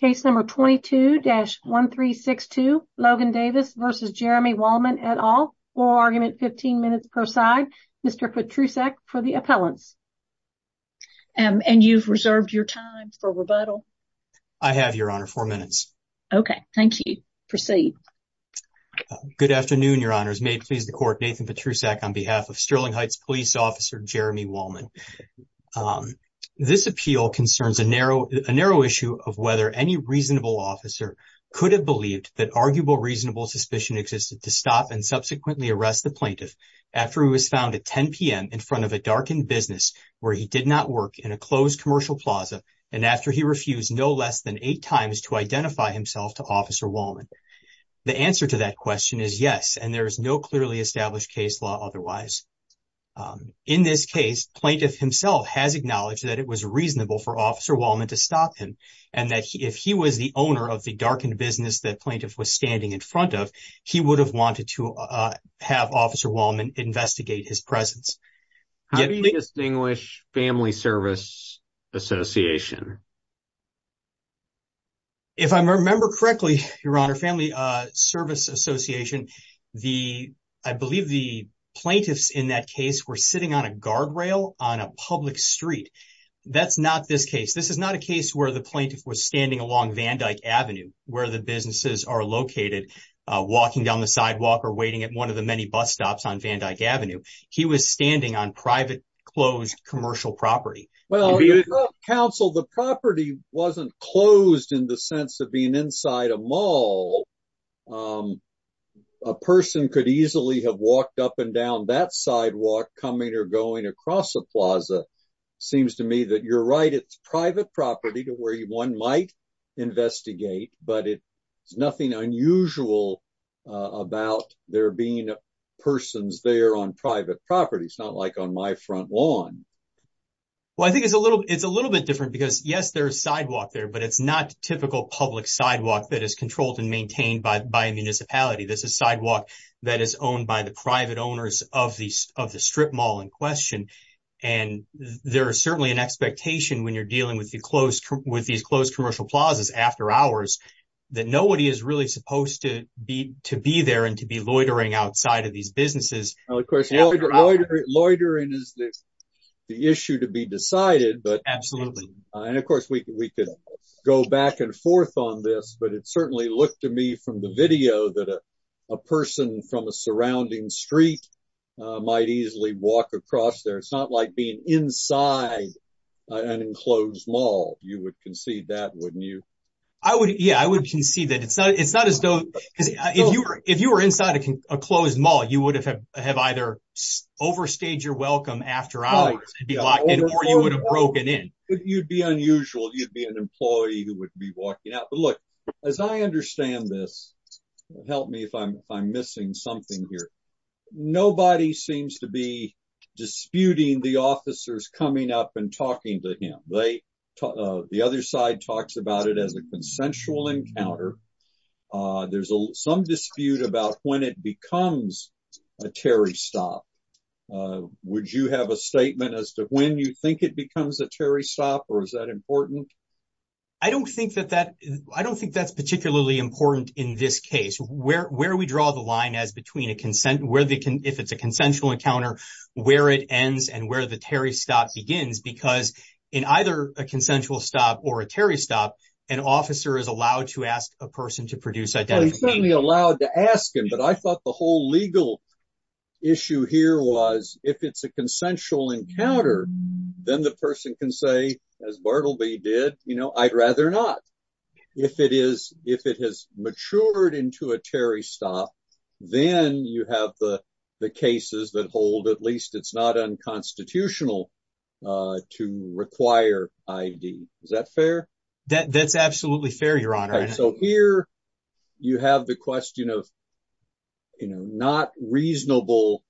Case number 22-1362 Logan Davis v. Jeremy Wallman et al. Oral argument 15 minutes per side. Mr. Patrusak for the appellants. And you've reserved your time for rebuttal? I have, your honor, four minutes. Okay, thank you. Proceed. Good afternoon, your honors. May it please the court, Nathan Patrusak on behalf of Sterling any reasonable officer could have believed that arguable reasonable suspicion existed to stop and subsequently arrest the plaintiff after he was found at 10 p.m. in front of a darkened business where he did not work in a closed commercial plaza and after he refused no less than eight times to identify himself to officer Wallman. The answer to that question is yes and there is no clearly established case law otherwise. In this case, plaintiff himself has acknowledged that it was reasonable for officer Wallman to stop him and that if he was the owner of the darkened business that plaintiff was standing in front of, he would have wanted to have officer Wallman investigate his presence. How do you distinguish family service association? If I remember correctly, your honor, family service association, I believe the plaintiffs in that case were sitting on a guardrail on a public street. That's not this case. This is not a case where the plaintiff was standing along Van Dyke Avenue where the businesses are located walking down the sidewalk or waiting at one of the many bus stops on Van Dyke Avenue. He was standing on private closed commercial property. Well, counsel, the property wasn't closed in the sense of being inside a mall. A person could easily have walked up and down that sidewalk coming or going across a plaza. Seems to me that you're right. It's private property to where one might investigate, but it's nothing unusual about there being persons there on private property. It's not like on my front lawn. Well, I think it's a little bit different because yes, there's sidewalk there, but it's not typical public sidewalk that is controlled and maintained by a municipality. This is sidewalk that is owned by the private owners of the strip mall in question. There are certainly an expectation when you're dealing with these closed commercial plazas after hours that nobody is really supposed to be there and to be loitering outside of these businesses. Loitering is the issue to be decided. Absolutely. Of course, we could go back and forth on this, but it certainly looked to me from the video that a person from a surrounding street might easily walk across there. It's not like being inside an enclosed mall. You would concede that, wouldn't you? Yeah, I would concede that. If you were inside a closed mall, you would have either overstayed your welcome after hours or you would have broken in. You'd be unusual. You'd be an employee who would be walking out. But look, as I understand this, help me if I'm missing something here. Nobody seems to be disputing the officers coming up and talking to him. The other side talks about it as a consensual encounter. There's some dispute about when it becomes a Terry stop. Would you have a statement as to when you think it becomes a Terry stop, or is that important? I don't think that's particularly important in this case. Where we draw the line as between if it's a consensual encounter, where it ends, and where the Terry stop begins, because in either a consensual stop or a Terry stop, an officer is allowed to ask a person to produce identification. He's certainly allowed to ask him, but I thought the whole legal issue here was if it's a consensual encounter, then the person can say, as Bartleby did, I'd rather not. If it has matured into a Terry stop, then you have the cases that hold at least it's not unconstitutional to require ID. Is that fair? That's absolutely fair, Your Honor. Here, you have the question of not reasonable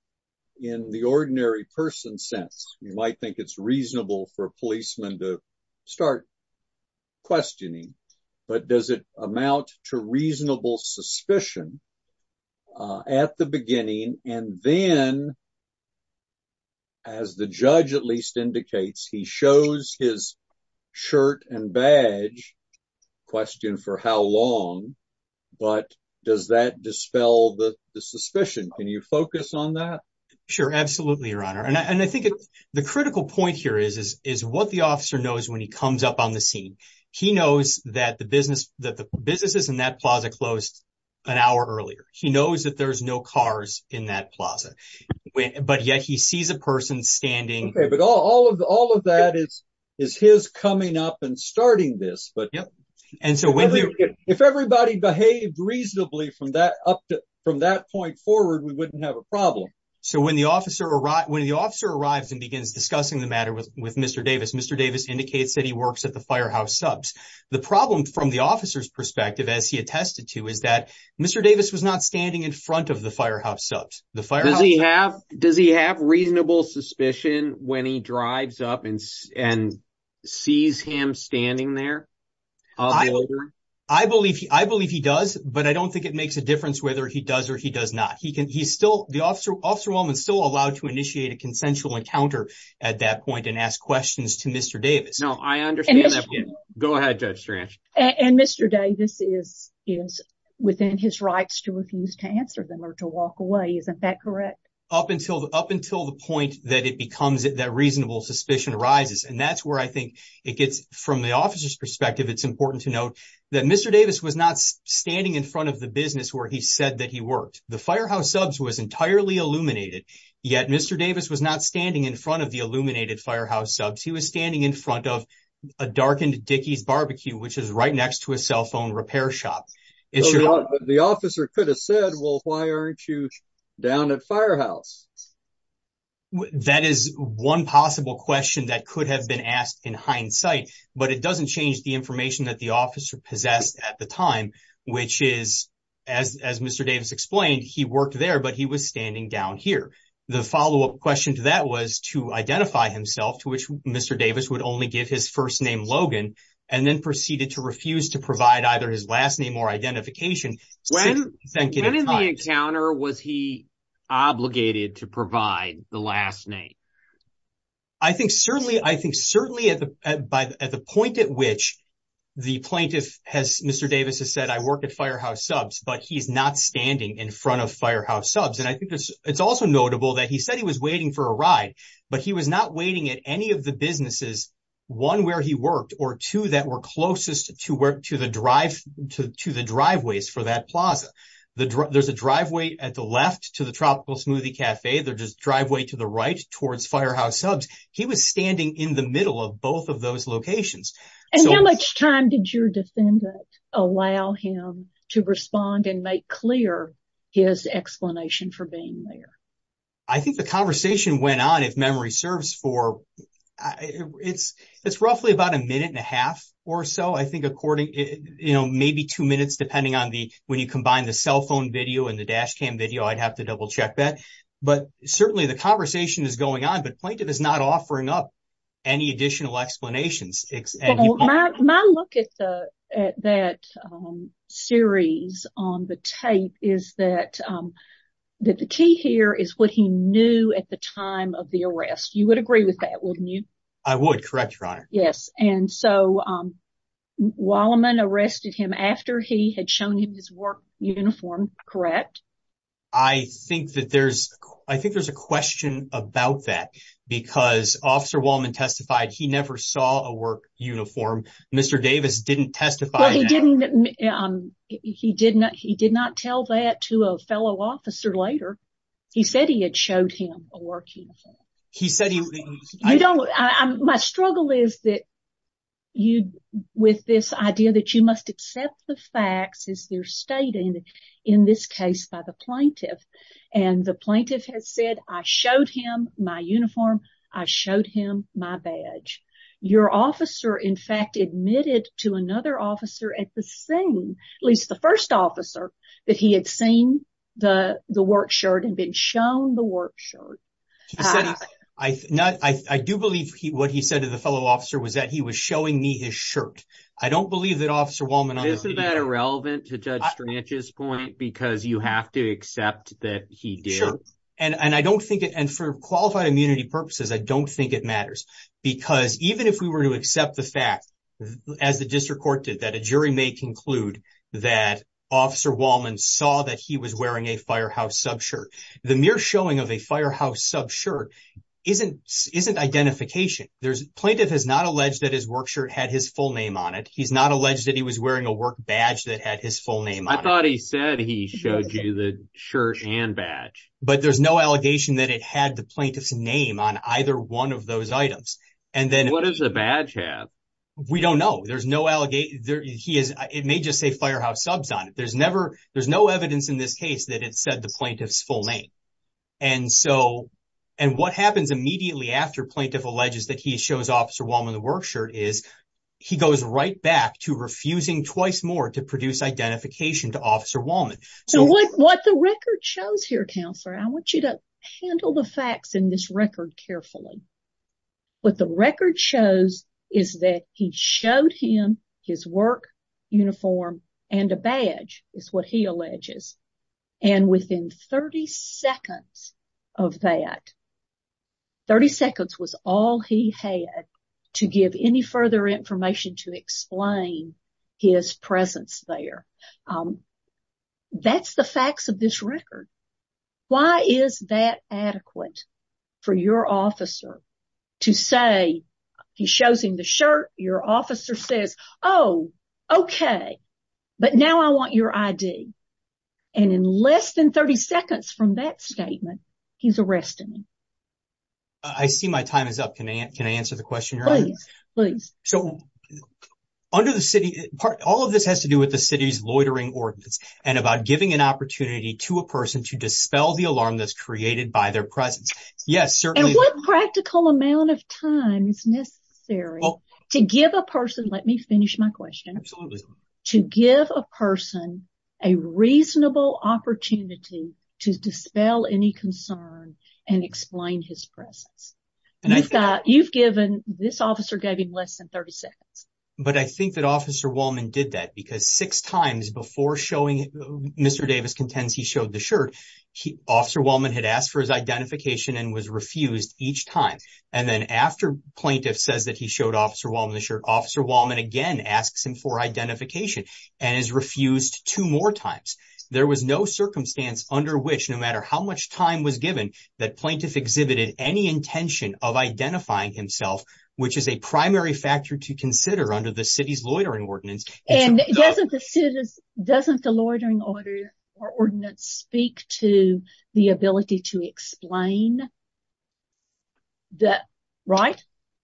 in the ordinary person sense. You might think it's reasonable for a policeman to start questioning, but does it amount to reasonable suspicion at the beginning? Then, as the judge at least indicates, he shows his shirt and badge, question for how long, but does that dispel the suspicion? Can you focus on that? Sure, absolutely, Your Honor. I think the critical point here is what the officer knows when he comes up on the scene. He knows that the businesses in that plaza closed an hour earlier. He knows that there's no cars in that plaza, but yet he sees a person standing. Okay, but all of that is his coming up and starting this. If everybody behaved reasonably from that point forward, we wouldn't have a problem. When the officer arrives and begins discussing the matter with Mr. Davis, Mr. Davis indicates that he works at the Firehouse Subs. The problem from the officer's perspective, as he attested to, is that Mr. Davis was not standing in front of the Firehouse Subs. Does he have reasonable suspicion when he drives up and sees him standing there? I believe he does, but I don't think it makes a difference whether he does or he does not. The officer is still allowed to initiate a consensual encounter at that point and ask questions to Mr. Davis. No, I understand that. Go ahead, Judge Strange. Mr. Davis is within his to refuse to answer them or to walk away. Isn't that correct? Up until the point that it becomes that reasonable suspicion arises. That's where I think it gets, from the officer's perspective, it's important to note that Mr. Davis was not standing in front of the business where he said that he worked. The Firehouse Subs was entirely illuminated, yet Mr. Davis was not standing in front of the illuminated Firehouse Subs. He was standing in front of a darkened Dickies BBQ, which is right next to a cell phone repair shop. The officer could have said, well, why aren't you down at Firehouse? That is one possible question that could have been asked in hindsight, but it doesn't change the information that the officer possessed at the time, which is, as Mr. Davis explained, he worked there, but he was standing down here. The follow-up question to that was to identify himself, to which Mr. Davis would only give his first name, Logan, and then proceeded to refuse to provide either his last name or identification. When in the encounter was he obligated to provide the last name? I think certainly at the point at which the plaintiff has, Mr. Davis has said, I work at Firehouse Subs, but he's not standing in front of Firehouse Subs. I think it's also notable that he said he was waiting for a ride, but he was not waiting at any of the businesses, one, where he worked, or two, that were closest to the driveways for that plaza. There's a driveway at the left to the Tropical Smoothie Cafe, there's a driveway to the right towards Firehouse Subs. He was standing in the middle of both of those locations. And how much time did your defendant allow him to respond and make clear his explanation for being there? I think the conversation went on, if memory serves, for it's roughly about a minute and a half or so. I think according, you know, maybe two minutes, depending on when you combine the cell phone video and the dash cam video. I'd have to double check that. But certainly the conversation is going on, but plaintiff is not offering up any additional explanations. Well, my look at that series on the tape is that the key here is what he knew at the time of the arrest. You would agree with that, wouldn't you? I would, correct, Your Honor. Yes, and so Wallman arrested him after he had shown him his work uniform, correct? I think that there's, I think there's a question about that because Officer Wallman testified he never saw a work uniform. Mr. Davis didn't testify. Well, he didn't, he did not, he did not tell that to a fellow officer later. He said he had showed him a work uniform. He said he... You don't, my struggle is that you, with this idea that you must accept the facts as they're stated in this case by the plaintiff. And the plaintiff has said, I showed him my uniform, I showed him my badge. Your officer, in fact, admitted to another officer at the scene, at least the first officer, that he had seen the work shirt and been shown the work shirt. I do believe what he said to the fellow officer was that he was showing me his shirt. I don't believe that Officer Wallman... Isn't that irrelevant to Judge Strange's point because you have to accept that he did? And I don't think it, and for qualified immunity purposes, I don't think it matters. Because even if we were to accept the fact, as the district court did, that a jury may conclude that Officer Wallman saw that he was wearing a firehouse sub shirt, the mere showing of a firehouse sub shirt isn't, isn't identification. There's, plaintiff has not alleged that his work shirt had his full name on it. He's not alleged that he was wearing a work badge that had his full name on it. I thought he said he showed you the shirt and badge. There's no allegation that it had the plaintiff's name on either one of those items. What does the badge have? We don't know. It may just say firehouse subs on it. There's no evidence in this case that it said the plaintiff's full name. And what happens immediately after plaintiff alleges that he shows Officer Wallman the work shirt is he goes right back to refusing twice more to produce identification to Officer Wallman. So what the record shows here, Counselor, I want you to handle the facts in this record carefully. What the record shows is that he showed him his work uniform and a badge is what he alleges. And within 30 seconds of that, 30 seconds was all he had to give any further information to explain his presence there. That's the facts of this record. Why is that adequate for your officer to say he shows him the shirt? Your officer says, oh, OK, but now I want your ID. And in less than 30 seconds from that statement, he's arresting me. I see my time is up. Can I can I answer the question, please? So under the city, all of this has to do with the city's loitering ordinance and about giving an opportunity to a person to dispel the alarm that's created by their presence. Yes, certainly. What practical amount of time is necessary to give a person? Let me finish my question. To give a person a reasonable opportunity to dispel any concern and explain his presence. And I thought you've given this officer gave him less than 30 seconds. But I think that Officer Wallman did that because six times before showing Mr. Davis contends he showed the shirt. Officer Wallman had asked for his identification and was refused each time. And then after plaintiff says that he showed Officer Wallman the shirt, Officer Wallman again asks him for identification and is refused two more times. There was no circumstance under which no matter how much time was given that plaintiff exhibited any intention of identifying himself, which is a primary factor to consider under the city's loitering ordinance. And doesn't the city doesn't the loitering order or ordinance speak to the ability to explain? That right,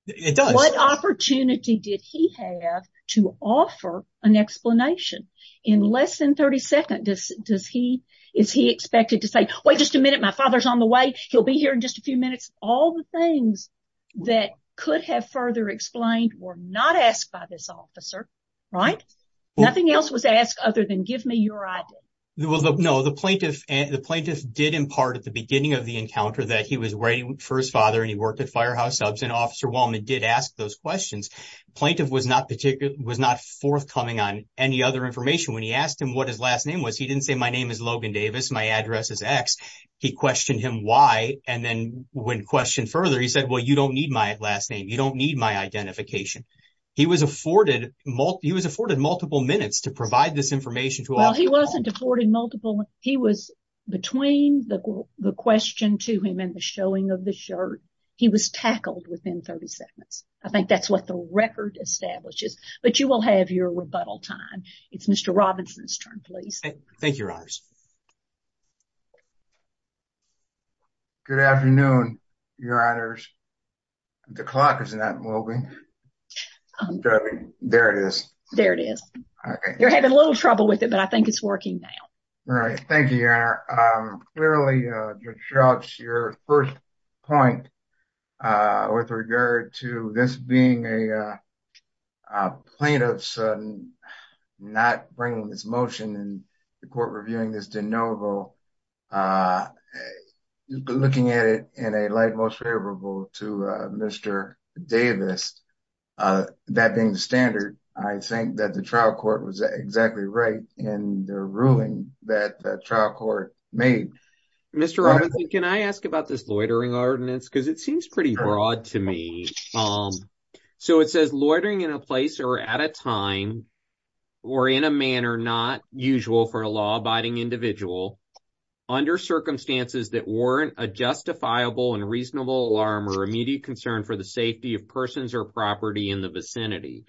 it does. What opportunity did he have to offer an explanation in less than 30 seconds? Does he is he expected to say, wait just a minute, my father's on the way. He'll be here in just a few minutes. All the things that could have further explained were not asked by this officer. Right. Nothing else was asked other than give me your idea. There was no the plaintiff and the plaintiff did impart at the beginning of the encounter that he was waiting for his father and he worked at Firehouse Subs and Officer Wallman did ask those questions. Plaintiff was not particularly was not forthcoming on any other information. When he asked him what his last name was, he didn't say my name is Logan Davis. My address is X. He questioned him. Why? And then when questioned further, he said, well, you don't need my last name. You don't need my identification. He was afforded multiple minutes to provide this information to all. He wasn't afforded multiple. He was between the question to him and the showing of the shirt. He was tackled within 30 seconds. I think that's what the record establishes. But you will have your rebuttal time. It's Mr. Robinson's turn, please. Thank you, Your Honors. Good afternoon, Your Honors. The clock is not moving. There it is. There it is. You're having a little trouble with it, but I think it's working now. All right. Thank you, Your Honor. Clearly, your first point with regard to this being a plaintiff's not bringing this motion and the court reviewing this de novo, looking at it in a light most favorable to Mr. Davis, that being the standard, I think that the trial court was exactly right in the ruling that the trial court made. Mr. Robinson, can I ask about this loitering ordinance? Because it seems pretty broad to me. So it says loitering in a place or at a time or in a manner not usual for a law abiding individual under circumstances that warrant a justifiable and reasonable alarm or immediate concern for the safety of persons or property in the vicinity.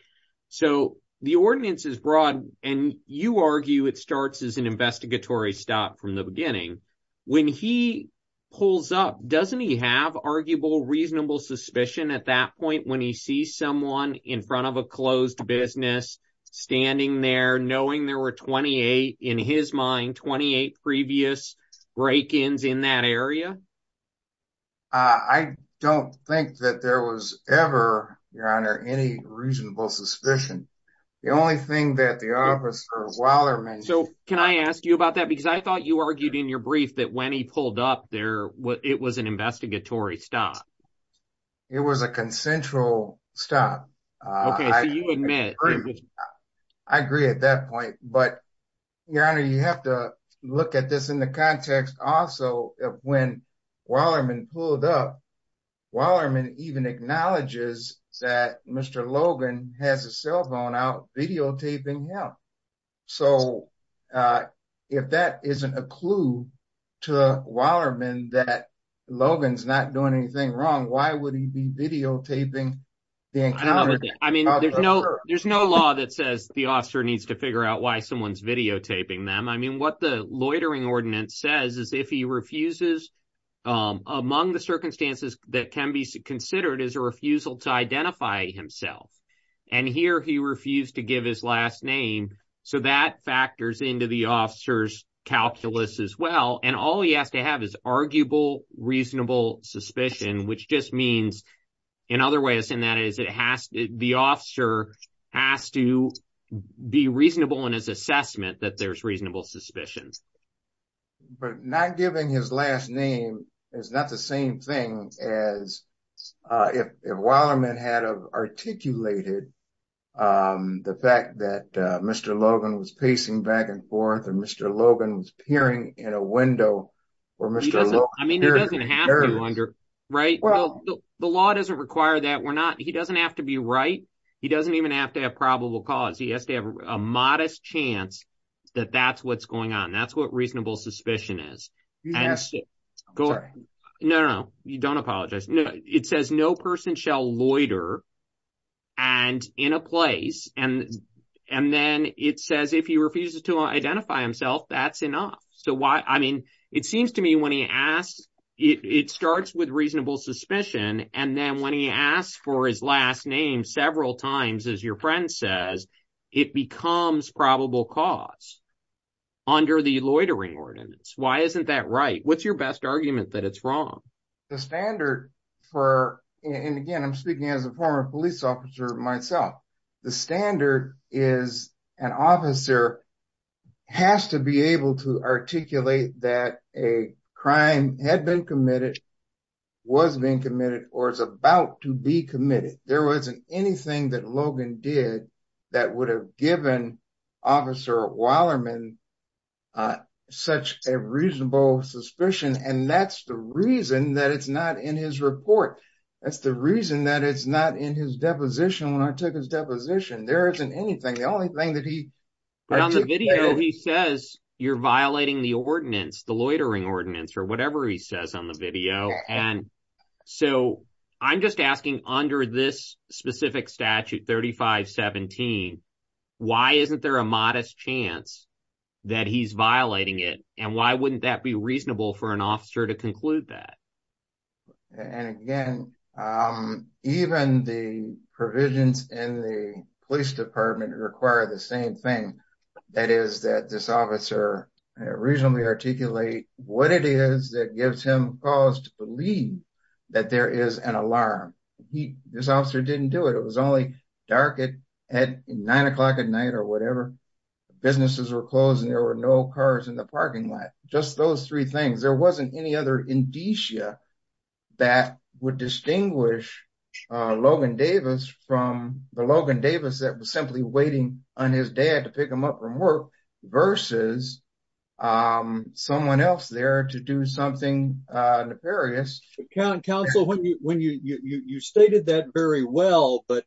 So the ordinance is broad and you argue it starts as an investigatory stop from the beginning. When he pulls up, doesn't he have arguable, reasonable suspicion at that point when he sees someone in front of a closed business standing there knowing there were 28, in his mind, 28 previous break-ins in that area? I don't think that there was ever, Your Honor, any reasonable suspicion. The only thing that the officer of Weillerman... Can I ask you about that? Because I thought you argued in your brief that when he pulled up there, it was an investigatory stop. It was a consensual stop. I agree at that point. But, Your Honor, you have to look at this in the context also of when Weillerman pulled up. Weillerman even acknowledges that Mr. Logan has a cell phone out videotaping him. So if that isn't a clue to Weillerman that Logan's not doing anything wrong, why would he be videotaping the encounter? I mean, there's no law that says the officer needs to figure out why someone's videotaping them. I mean, what the loitering ordinance says is if he refuses, among the circumstances that can be considered is a refusal to identify himself. And here, he refused to give his last name. So that factors into the officer's calculus as well. And all he has to have is arguable, reasonable suspicion, which just means, in other ways, and that is it has... The officer has to be reasonable in his assessment that there's reasonable suspicions. But not giving his last name is not the same thing as if Weillerman had articulated the fact that Mr. Logan was pacing back and forth and Mr. Logan was peering in a window. I mean, it doesn't have to, right? The law doesn't require that. He doesn't have to be right. He doesn't even have to have probable cause. He has to have a modest chance that that's what's going on. That's what reasonable suspicion is. You missed it. No, no, no. You don't apologize. It says no person shall loiter and in a place. And then it says if he refuses to identify himself, that's enough. So why? I mean, it seems to me when he asks, it starts with reasonable suspicion. And then when he asks for his last name several times, as your friend says, it becomes probable cause. Under the loitering ordinance. Why isn't that right? What's your best argument that it's wrong? The standard for, and again, I'm speaking as a former police officer myself. The standard is an officer has to be able to articulate that a crime had been committed, was being committed, or is about to be committed. There wasn't anything that Logan did that would have given officer Wallerman such a reasonable suspicion. And that's the reason that it's not in his report. That's the reason that it's not in his deposition. When I took his deposition, there isn't anything. The only thing that he. But on the video, he says you're violating the ordinance, the loitering ordinance or whatever he says on the video. And so I'm just asking under this specific statute 3517, why isn't there a modest chance that he's violating it? And why wouldn't that be reasonable for an officer to conclude that? And again, even the provisions in the police department require the same thing. That is that this officer reasonably articulate what it is that gives him cause to believe that there is an alarm. This officer didn't do it. It was only dark at nine o'clock at night or whatever. Businesses were closed and there were no cars in the parking lot. Just those three things. There wasn't any other indicia that would distinguish Logan Davis from the Logan Davis that was simply waiting on his dad to pick him up from work versus someone else there to do something nefarious. Counsel, you stated that very well, but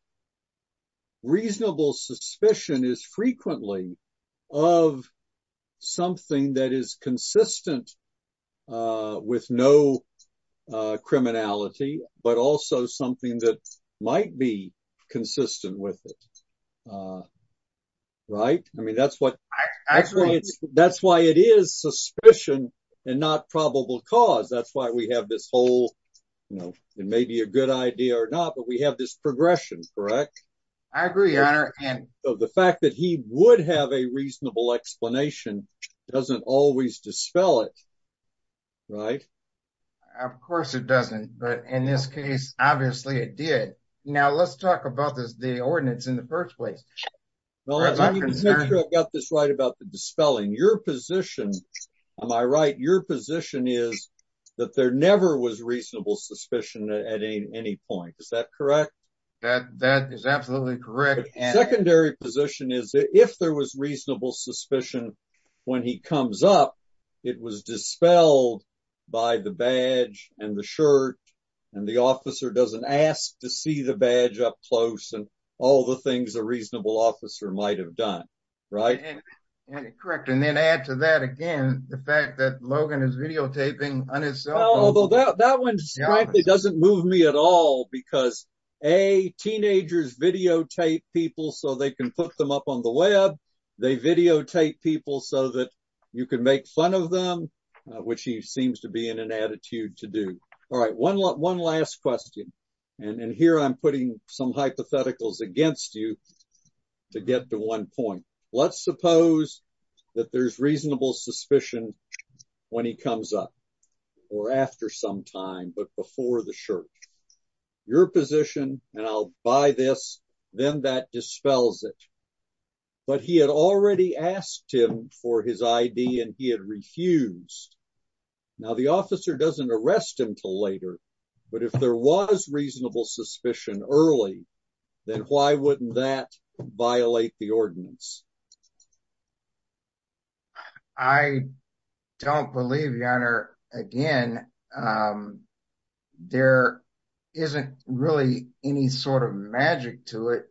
reasonable suspicion is frequently of something that is consistent with no criminality, but also something that might be consistent with it, right? I mean, that's why it is suspicion and not probable cause. That's why we have this whole, it may be a good idea or not, but we have this progression, correct? I agree, your honor. And the fact that he would have a reasonable explanation doesn't always dispel it, right? Of course it doesn't. But in this case, obviously it did. Now let's talk about the ordinance in the first place. Well, let me make sure I've got this right about the dispelling. Your position, am I right? Your position is that there never was reasonable suspicion at any point. Is that correct? That is absolutely correct. Secondary position is if there was reasonable suspicion when he comes up, it was dispelled by the badge and the shirt and the officer doesn't ask to see the badge up close and all the things a reasonable officer might've done, right? Correct. And then add to that again, the fact that Logan is videotaping on his cell phone. Although that one frankly doesn't move me at all, because A, teenagers videotape people so they can put them up on the web. They videotape people so that you can make fun of them, which he seems to be in an attitude to do. All right, one last question. And here I'm putting some hypotheticals against you to get to one point. Let's suppose that there's reasonable suspicion when he comes up or after some time, but before the shirt. Your position, and I'll buy this, then that dispels it. But he had already asked him for his ID and he had refused. Now the officer doesn't arrest him till later. But if there was reasonable suspicion early, then why wouldn't that violate the ordinance? I don't believe, your honor. Again, there isn't really any sort of magic to it,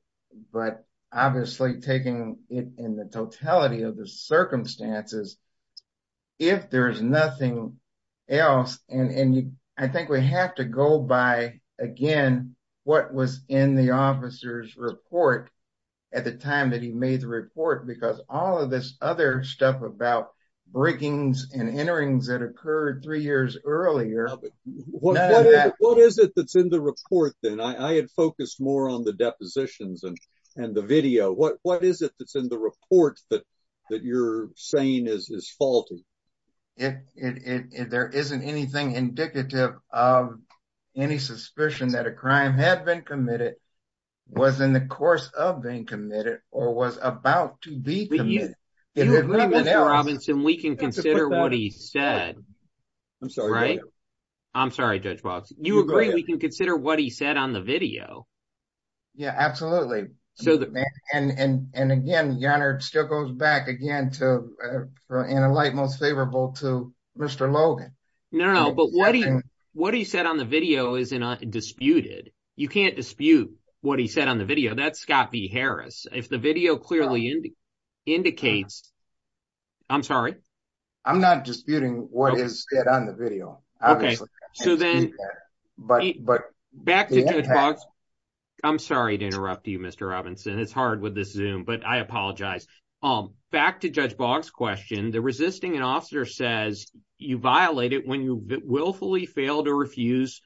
but obviously taking it in the totality of the circumstances. If there's nothing else, and I think we have to go by again, what was in the officer's report at the time that he made the report. Because all of this other stuff about breakings and enterings that occurred three years earlier. But what is it that's in the report then? I had focused more on the depositions and the video. What is it that's in the report that you're saying is faulty? There isn't anything indicative of any suspicion that a crime had been committed, was in the course of being committed, or was about to be committed. But you agree, Mr. Robinson, we can consider what he said. I'm sorry, Judge Walts. You agree we can consider what he said on the video? Yeah, absolutely. And again, your honor, it still goes back again, in a light most favorable to Mr. Logan. No, but what he said on the video isn't disputed. You can't dispute what he said on the video. That's Scott B. Harris. If the video clearly indicates, I'm sorry. I'm not disputing what is said on the video. Okay, so then back to Judge Walts. I'm sorry to interrupt you, Mr. Robinson. It's hard with this Zoom, but I apologize. Back to Judge Boggs' question, the resisting an officer says you violate it when you willfully fail to refuse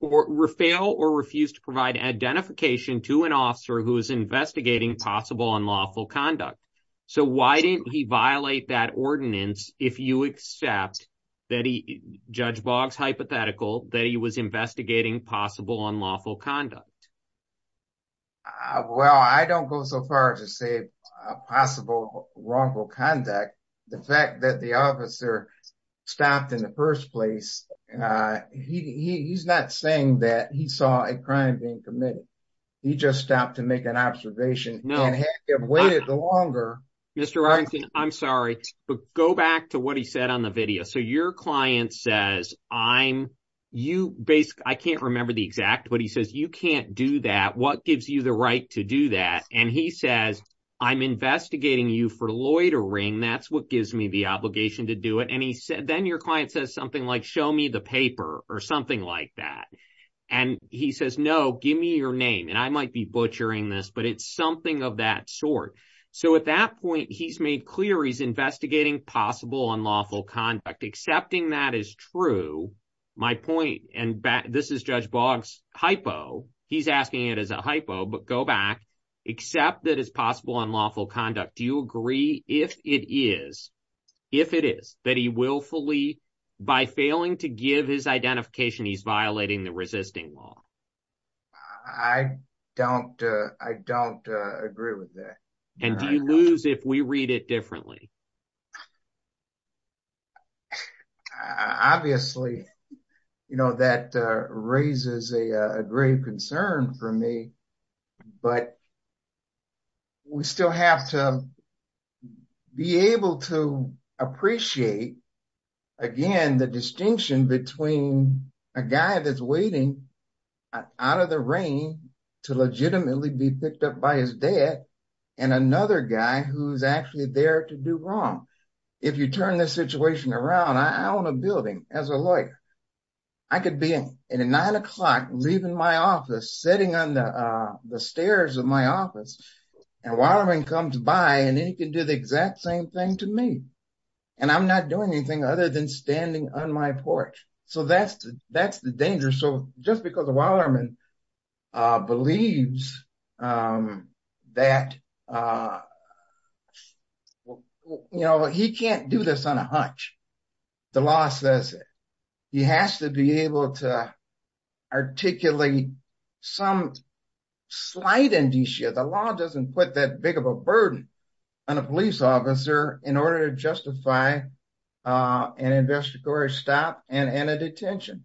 or fail or refuse to provide identification to an officer who is investigating possible unlawful conduct. So why didn't he violate that ordinance if you accept that he, Judge Boggs, hypothetical that he was investigating possible unlawful conduct? Well, I don't go so far to say possible wrongful conduct. The fact that the officer stopped in the first place, he's not saying that he saw a crime being committed. He just stopped to make an observation. He can't have waited the longer. Mr. Robinson, I'm sorry, but go back to what he said on the video. So your client says, I can't remember the exact, but he says, you can't do that. What gives you the right to do that? And he says, I'm investigating you for loitering. That's what gives me the obligation to do it. And then your client says something like, show me the paper or something like that. And he says, no, give me your name. And I might be butchering this, but it's something of that sort. So at that point, he's made clear he's investigating possible unlawful conduct. Accepting that is true. My point, and this is Judge Boggs' hypo. He's asking it as a hypo, but go back. Accept that it's possible unlawful conduct. Do you agree if it is, if it is, that he willfully, by failing to give his identification, he's violating the resisting law? I don't agree with that. And do you lose if we read it differently? Obviously, you know, that raises a grave concern for me. But we still have to be able to appreciate, again, the distinction between a guy that's waiting out of the rain to legitimately be picked up by his dad, and another guy who's actually there to do wrong. If you turn this situation around, I own a building as a lawyer. I could be in a nine o'clock leaving my office, sitting on the stairs of my office, and a waterman comes by, and then he can do the exact same thing to me. And I'm not doing anything other than standing on my porch. So that's the danger. So just because a waterman believes that, you know, he can't do this on a hunch, the law says it. He has to be able to articulate some slight indicia. The law doesn't put that big of a burden on a police officer in order to justify an investigatory stop and a detention.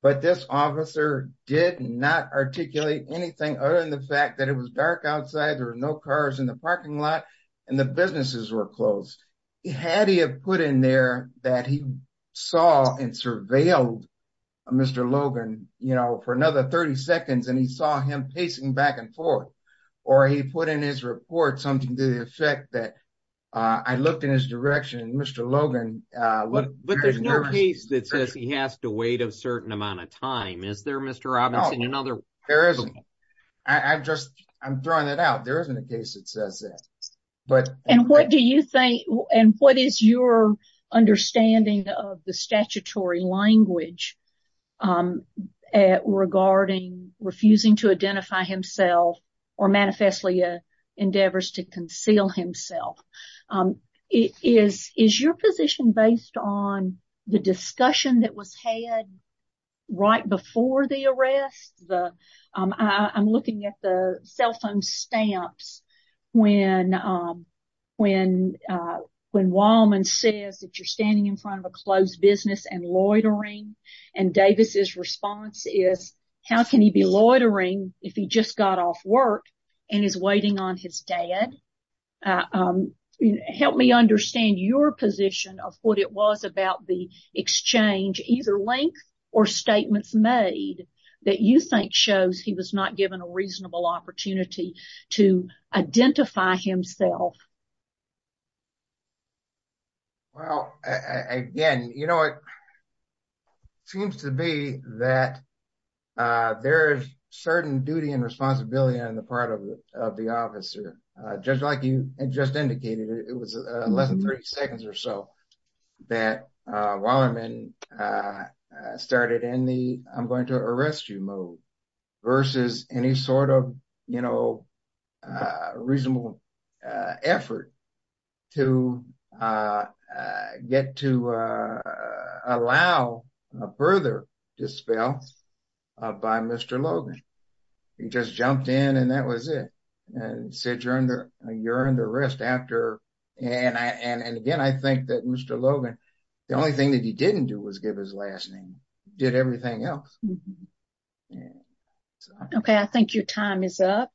But this officer did not articulate anything other than the fact that it was dark outside, there were no cars in the parking lot, and the businesses were closed. Had he put in there that he saw and surveilled Mr. Logan, you know, for another 30 seconds, and he saw him pacing back and forth, or he put in his report something to the effect that I looked in his direction and Mr. Logan... But there's no case that says he has to wait a certain amount of time, is there, Mr. Robinson? There isn't. I'm throwing that out. There isn't a case that says that. And what is your understanding of the statutory language regarding refusing to identify himself or manifestly endeavors to conceal himself? Is your position based on the discussion that was had right before the arrest? I'm looking at the cell phone stamps when Wallman says that you're standing in front of a closed business and loitering, and Davis's response is, how can he be loitering if he just got off work and is waiting on his dad? Help me understand your position of what it was about the exchange, either link or statements made, that you think shows he was not given a reasonable opportunity to identify himself. Well, again, you know, it seems to be that there is certain duty and responsibility on the part of the officer. Just like you just indicated, it was less than 30 seconds or so that Wallerman started in the I'm going to arrest you mode versus any sort of, you know, reasonable effort to get to allow further dispel by Mr. Logan. He just jumped in and that was it and said you're under arrest after. And again, I think that Mr. Logan, the only thing that he didn't do was give his last name, did everything else. Okay, I think your time is up.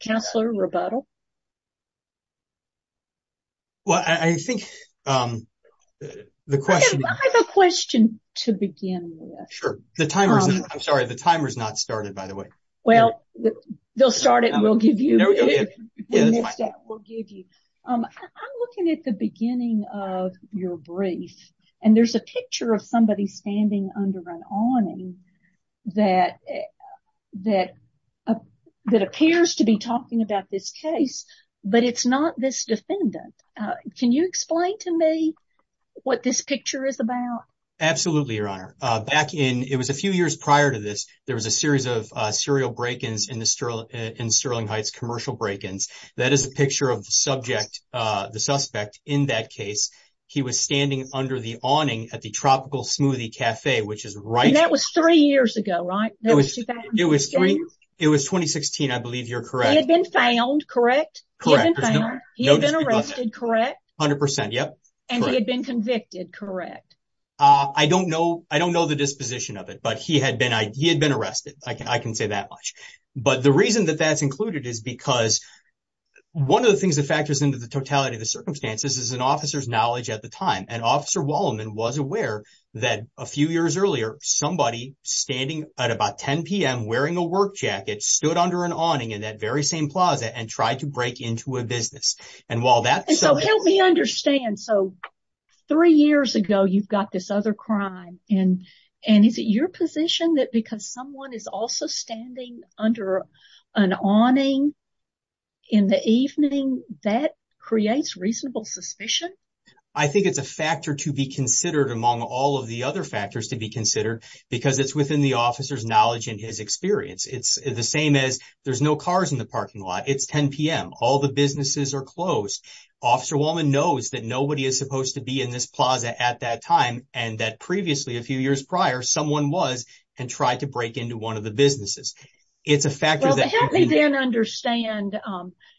Counselor, rebuttal. Well, I think the question. I have a question to begin with. Sure, the timer. I'm sorry, the timer is not started, by the way. Well, they'll start it and we'll give you. Yes, we'll give you. I'm looking at the beginning of your brief and there's a picture of somebody standing under an awning that appears to be talking about this case, but it's not this defendant. Can you explain to me what this picture is about? Absolutely, Your Honor. Back in, it was a few years prior to this, there was a series of serial break-ins in Sterling Heights, commercial break-ins. That is a picture of the subject, the suspect in that case. He was standing under the awning at the Tropical Smoothie Cafe, which is right. That was three years ago, right? It was 2016. I believe you're correct. He had been found, correct? He had been arrested, correct? 100%, yep. And he had been convicted, correct? I don't know the disposition of it, but he had been arrested. I can say that much. But the reason that that's included is because one of the things that factors into the totality of the circumstances is an officer's knowledge at the time. And Officer Walleman was aware that a few years earlier, somebody standing at about 10 p.m. wearing a work jacket stood under an awning in that very same plaza and tried to break into a business. And while that's- So help me understand. So three years ago, you've got this other crime. And is it your position that because someone is also standing under an awning in the evening, that creates reasonable suspicion? I think it's a factor to be considered among all of the other factors to be considered because it's within the officer's knowledge and his experience. It's the same as there's no cars in the parking lot. It's 10 p.m. All the businesses are closed. Officer Walleman knows that nobody is supposed to be in this plaza at that time and that previously, a few years prior, someone was and tried to break into one of the businesses. It's a factor that- Well, help me then understand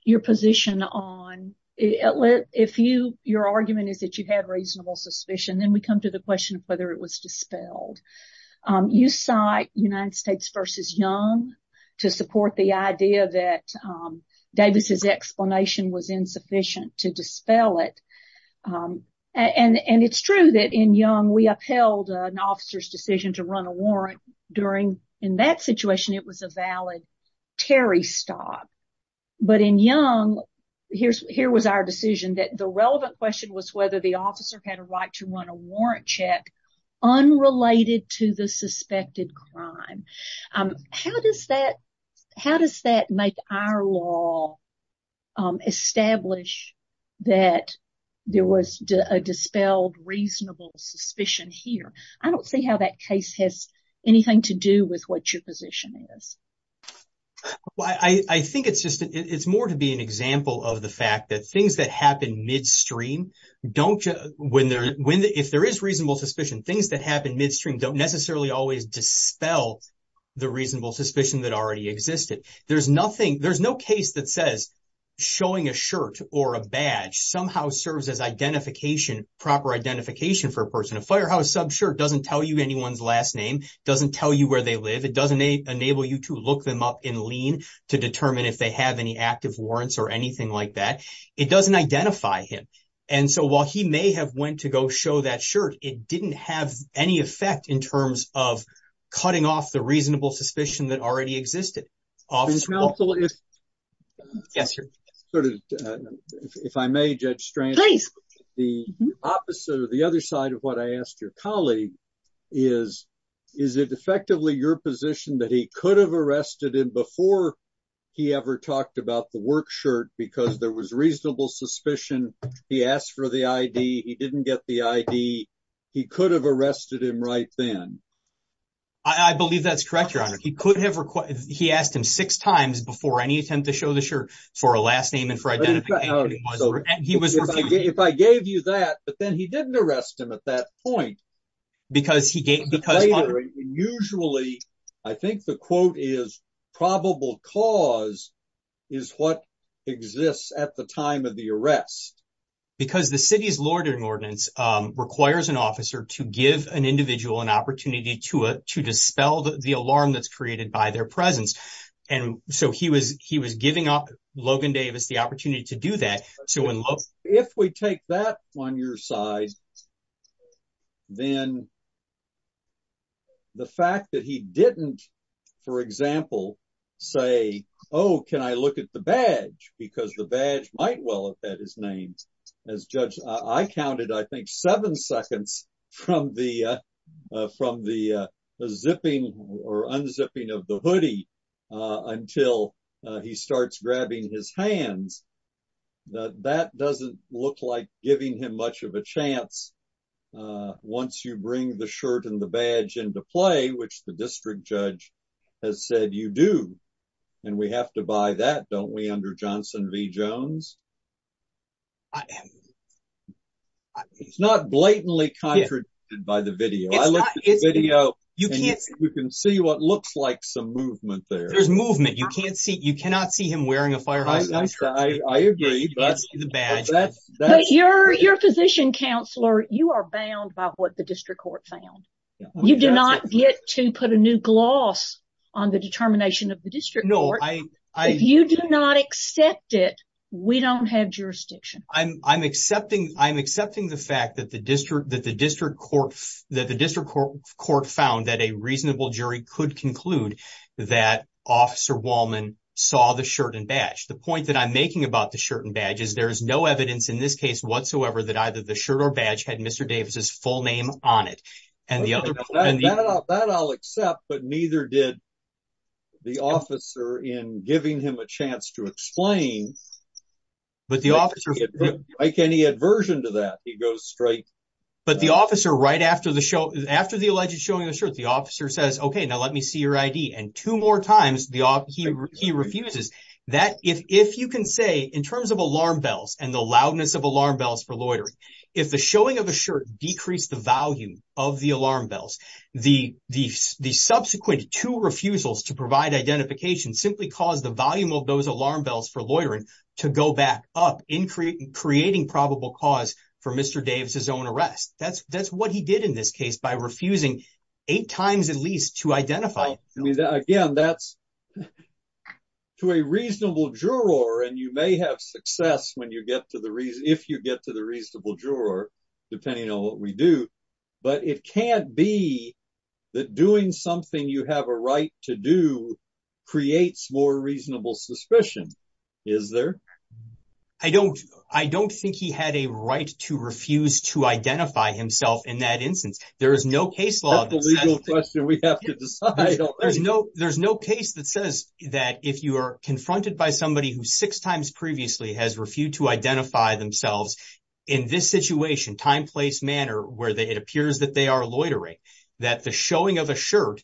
your position on- If your argument is that you had reasonable suspicion, then we come to the question of whether it was dispelled. You cite United States v. Young to support the idea that Davis's explanation was insufficient to dispel it. And it's true that in Young, we upheld an officer's decision to run a warrant during- In that situation, it was a valid Terry stop. But in Young, here was our decision that the relevant question was whether the officer had a right to run a warrant check unrelated to the suspected crime. How does that make our law establish that there was a dispelled reasonable suspicion here? I don't see how that case has anything to do with what your position is. Well, I think it's just- It's more to be an example of the fact that things that happen midstream don't- If there is reasonable suspicion, things that happen midstream don't necessarily always dispel the reasonable suspicion that already existed. There's no case that says showing a shirt or a badge somehow serves as proper identification for a person. A firehouse sub shirt doesn't tell you anyone's last name, doesn't tell you where they live, it doesn't enable you to look them up in lien to determine if they have any active warrants or anything like that. It doesn't identify him. And so while he may have went to go show that shirt, it didn't have any effect in terms of cutting off the reasonable suspicion that already existed. Counsel, if I may, Judge Strang, the opposite or the other side of what I asked your colleague is, is it effectively your position that he could have arrested him before he ever talked about the work shirt because there was reasonable suspicion, he asked for the ID, he didn't get the ID, he could have arrested him right then? I believe that's correct, Your Honor. He asked him six times before any attempt to show the shirt for a last name and for identification, and he was refused. If I gave you that, but then he didn't arrest him at that point. Usually, I think the quote is, probable cause is what exists at the time of the arrest. Because the city's law ordering ordinance requires an officer to give an individual an opportunity to dispel the alarm created by their presence. So he was giving up Logan Davis the opportunity to do that. If we take that on your side, then the fact that he didn't, for example, say, oh, can I look at the badge? Because the badge might well have had his name. As Judge, I counted, I think, seven seconds from the zipping or unzipping of the hoodie until he starts grabbing his hands. That doesn't look like giving him much of a chance once you bring the shirt and the badge into play, which the district judge has said you do. And we have to buy that, don't we, under Johnson v. Jones? It's not blatantly contradicted by the video. I looked at the video, and you can see what looks like some movement there. There's movement. You cannot see him wearing a firehose. I agree. You can't see the badge. But you're a physician counselor. You are bound by what the district court found. You do not get to put a new gloss on the determination of the district court. No, I- If you do not accept it, we don't have jurisdiction. I'm accepting the fact that the district court found that a reasonable jury could conclude that Officer Wallman saw the shirt and badge. The point that I'm making about the shirt and badge is there is no evidence in this case whatsoever that either the shirt or badge had Mr. Davis's full name on it. That I'll accept, but neither did the officer in giving him a chance to explain. Like any aversion to that, he goes straight- But the officer, right after the alleged showing of the shirt, the officer says, okay, now let me see your ID. And two more times, he refuses. If you can say, in terms of alarm bells and the loudness of alarm bells for loitering, if the showing of the shirt decreased the value of the alarm bells, the subsequent two refusals to provide identification simply caused the volume of those alarm bells for loitering to go back up, creating probable cause for Mr. Davis's own arrest. That's what he did in this case by refusing eight times at least to identify. Again, that's to a reasonable juror, and you may have success if you get to the reasonable juror, depending on what we do. But it can't be that doing something you have a right to do creates more reasonable suspicion, is there? I don't think he had a right to refuse to identify himself in that instance. There is no case law- That's a legal question we have to decide on. There's no case that says that if you are confronted by somebody who six times previously has refused to identify themselves in this situation, time, place, manner, where it appears that they are loitering, that the showing of a shirt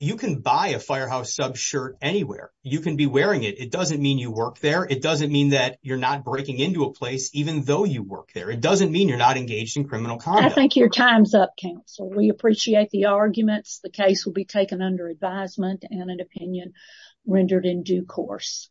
you can buy a firehouse sub shirt anywhere. You can be wearing it. It doesn't mean you work there. It doesn't mean that you're not breaking into a place even though you work there. It doesn't mean you're not engaged in criminal conduct. I think your time's up, counsel. We appreciate the arguments. The case will be taken under advisement and an opinion rendered in due course.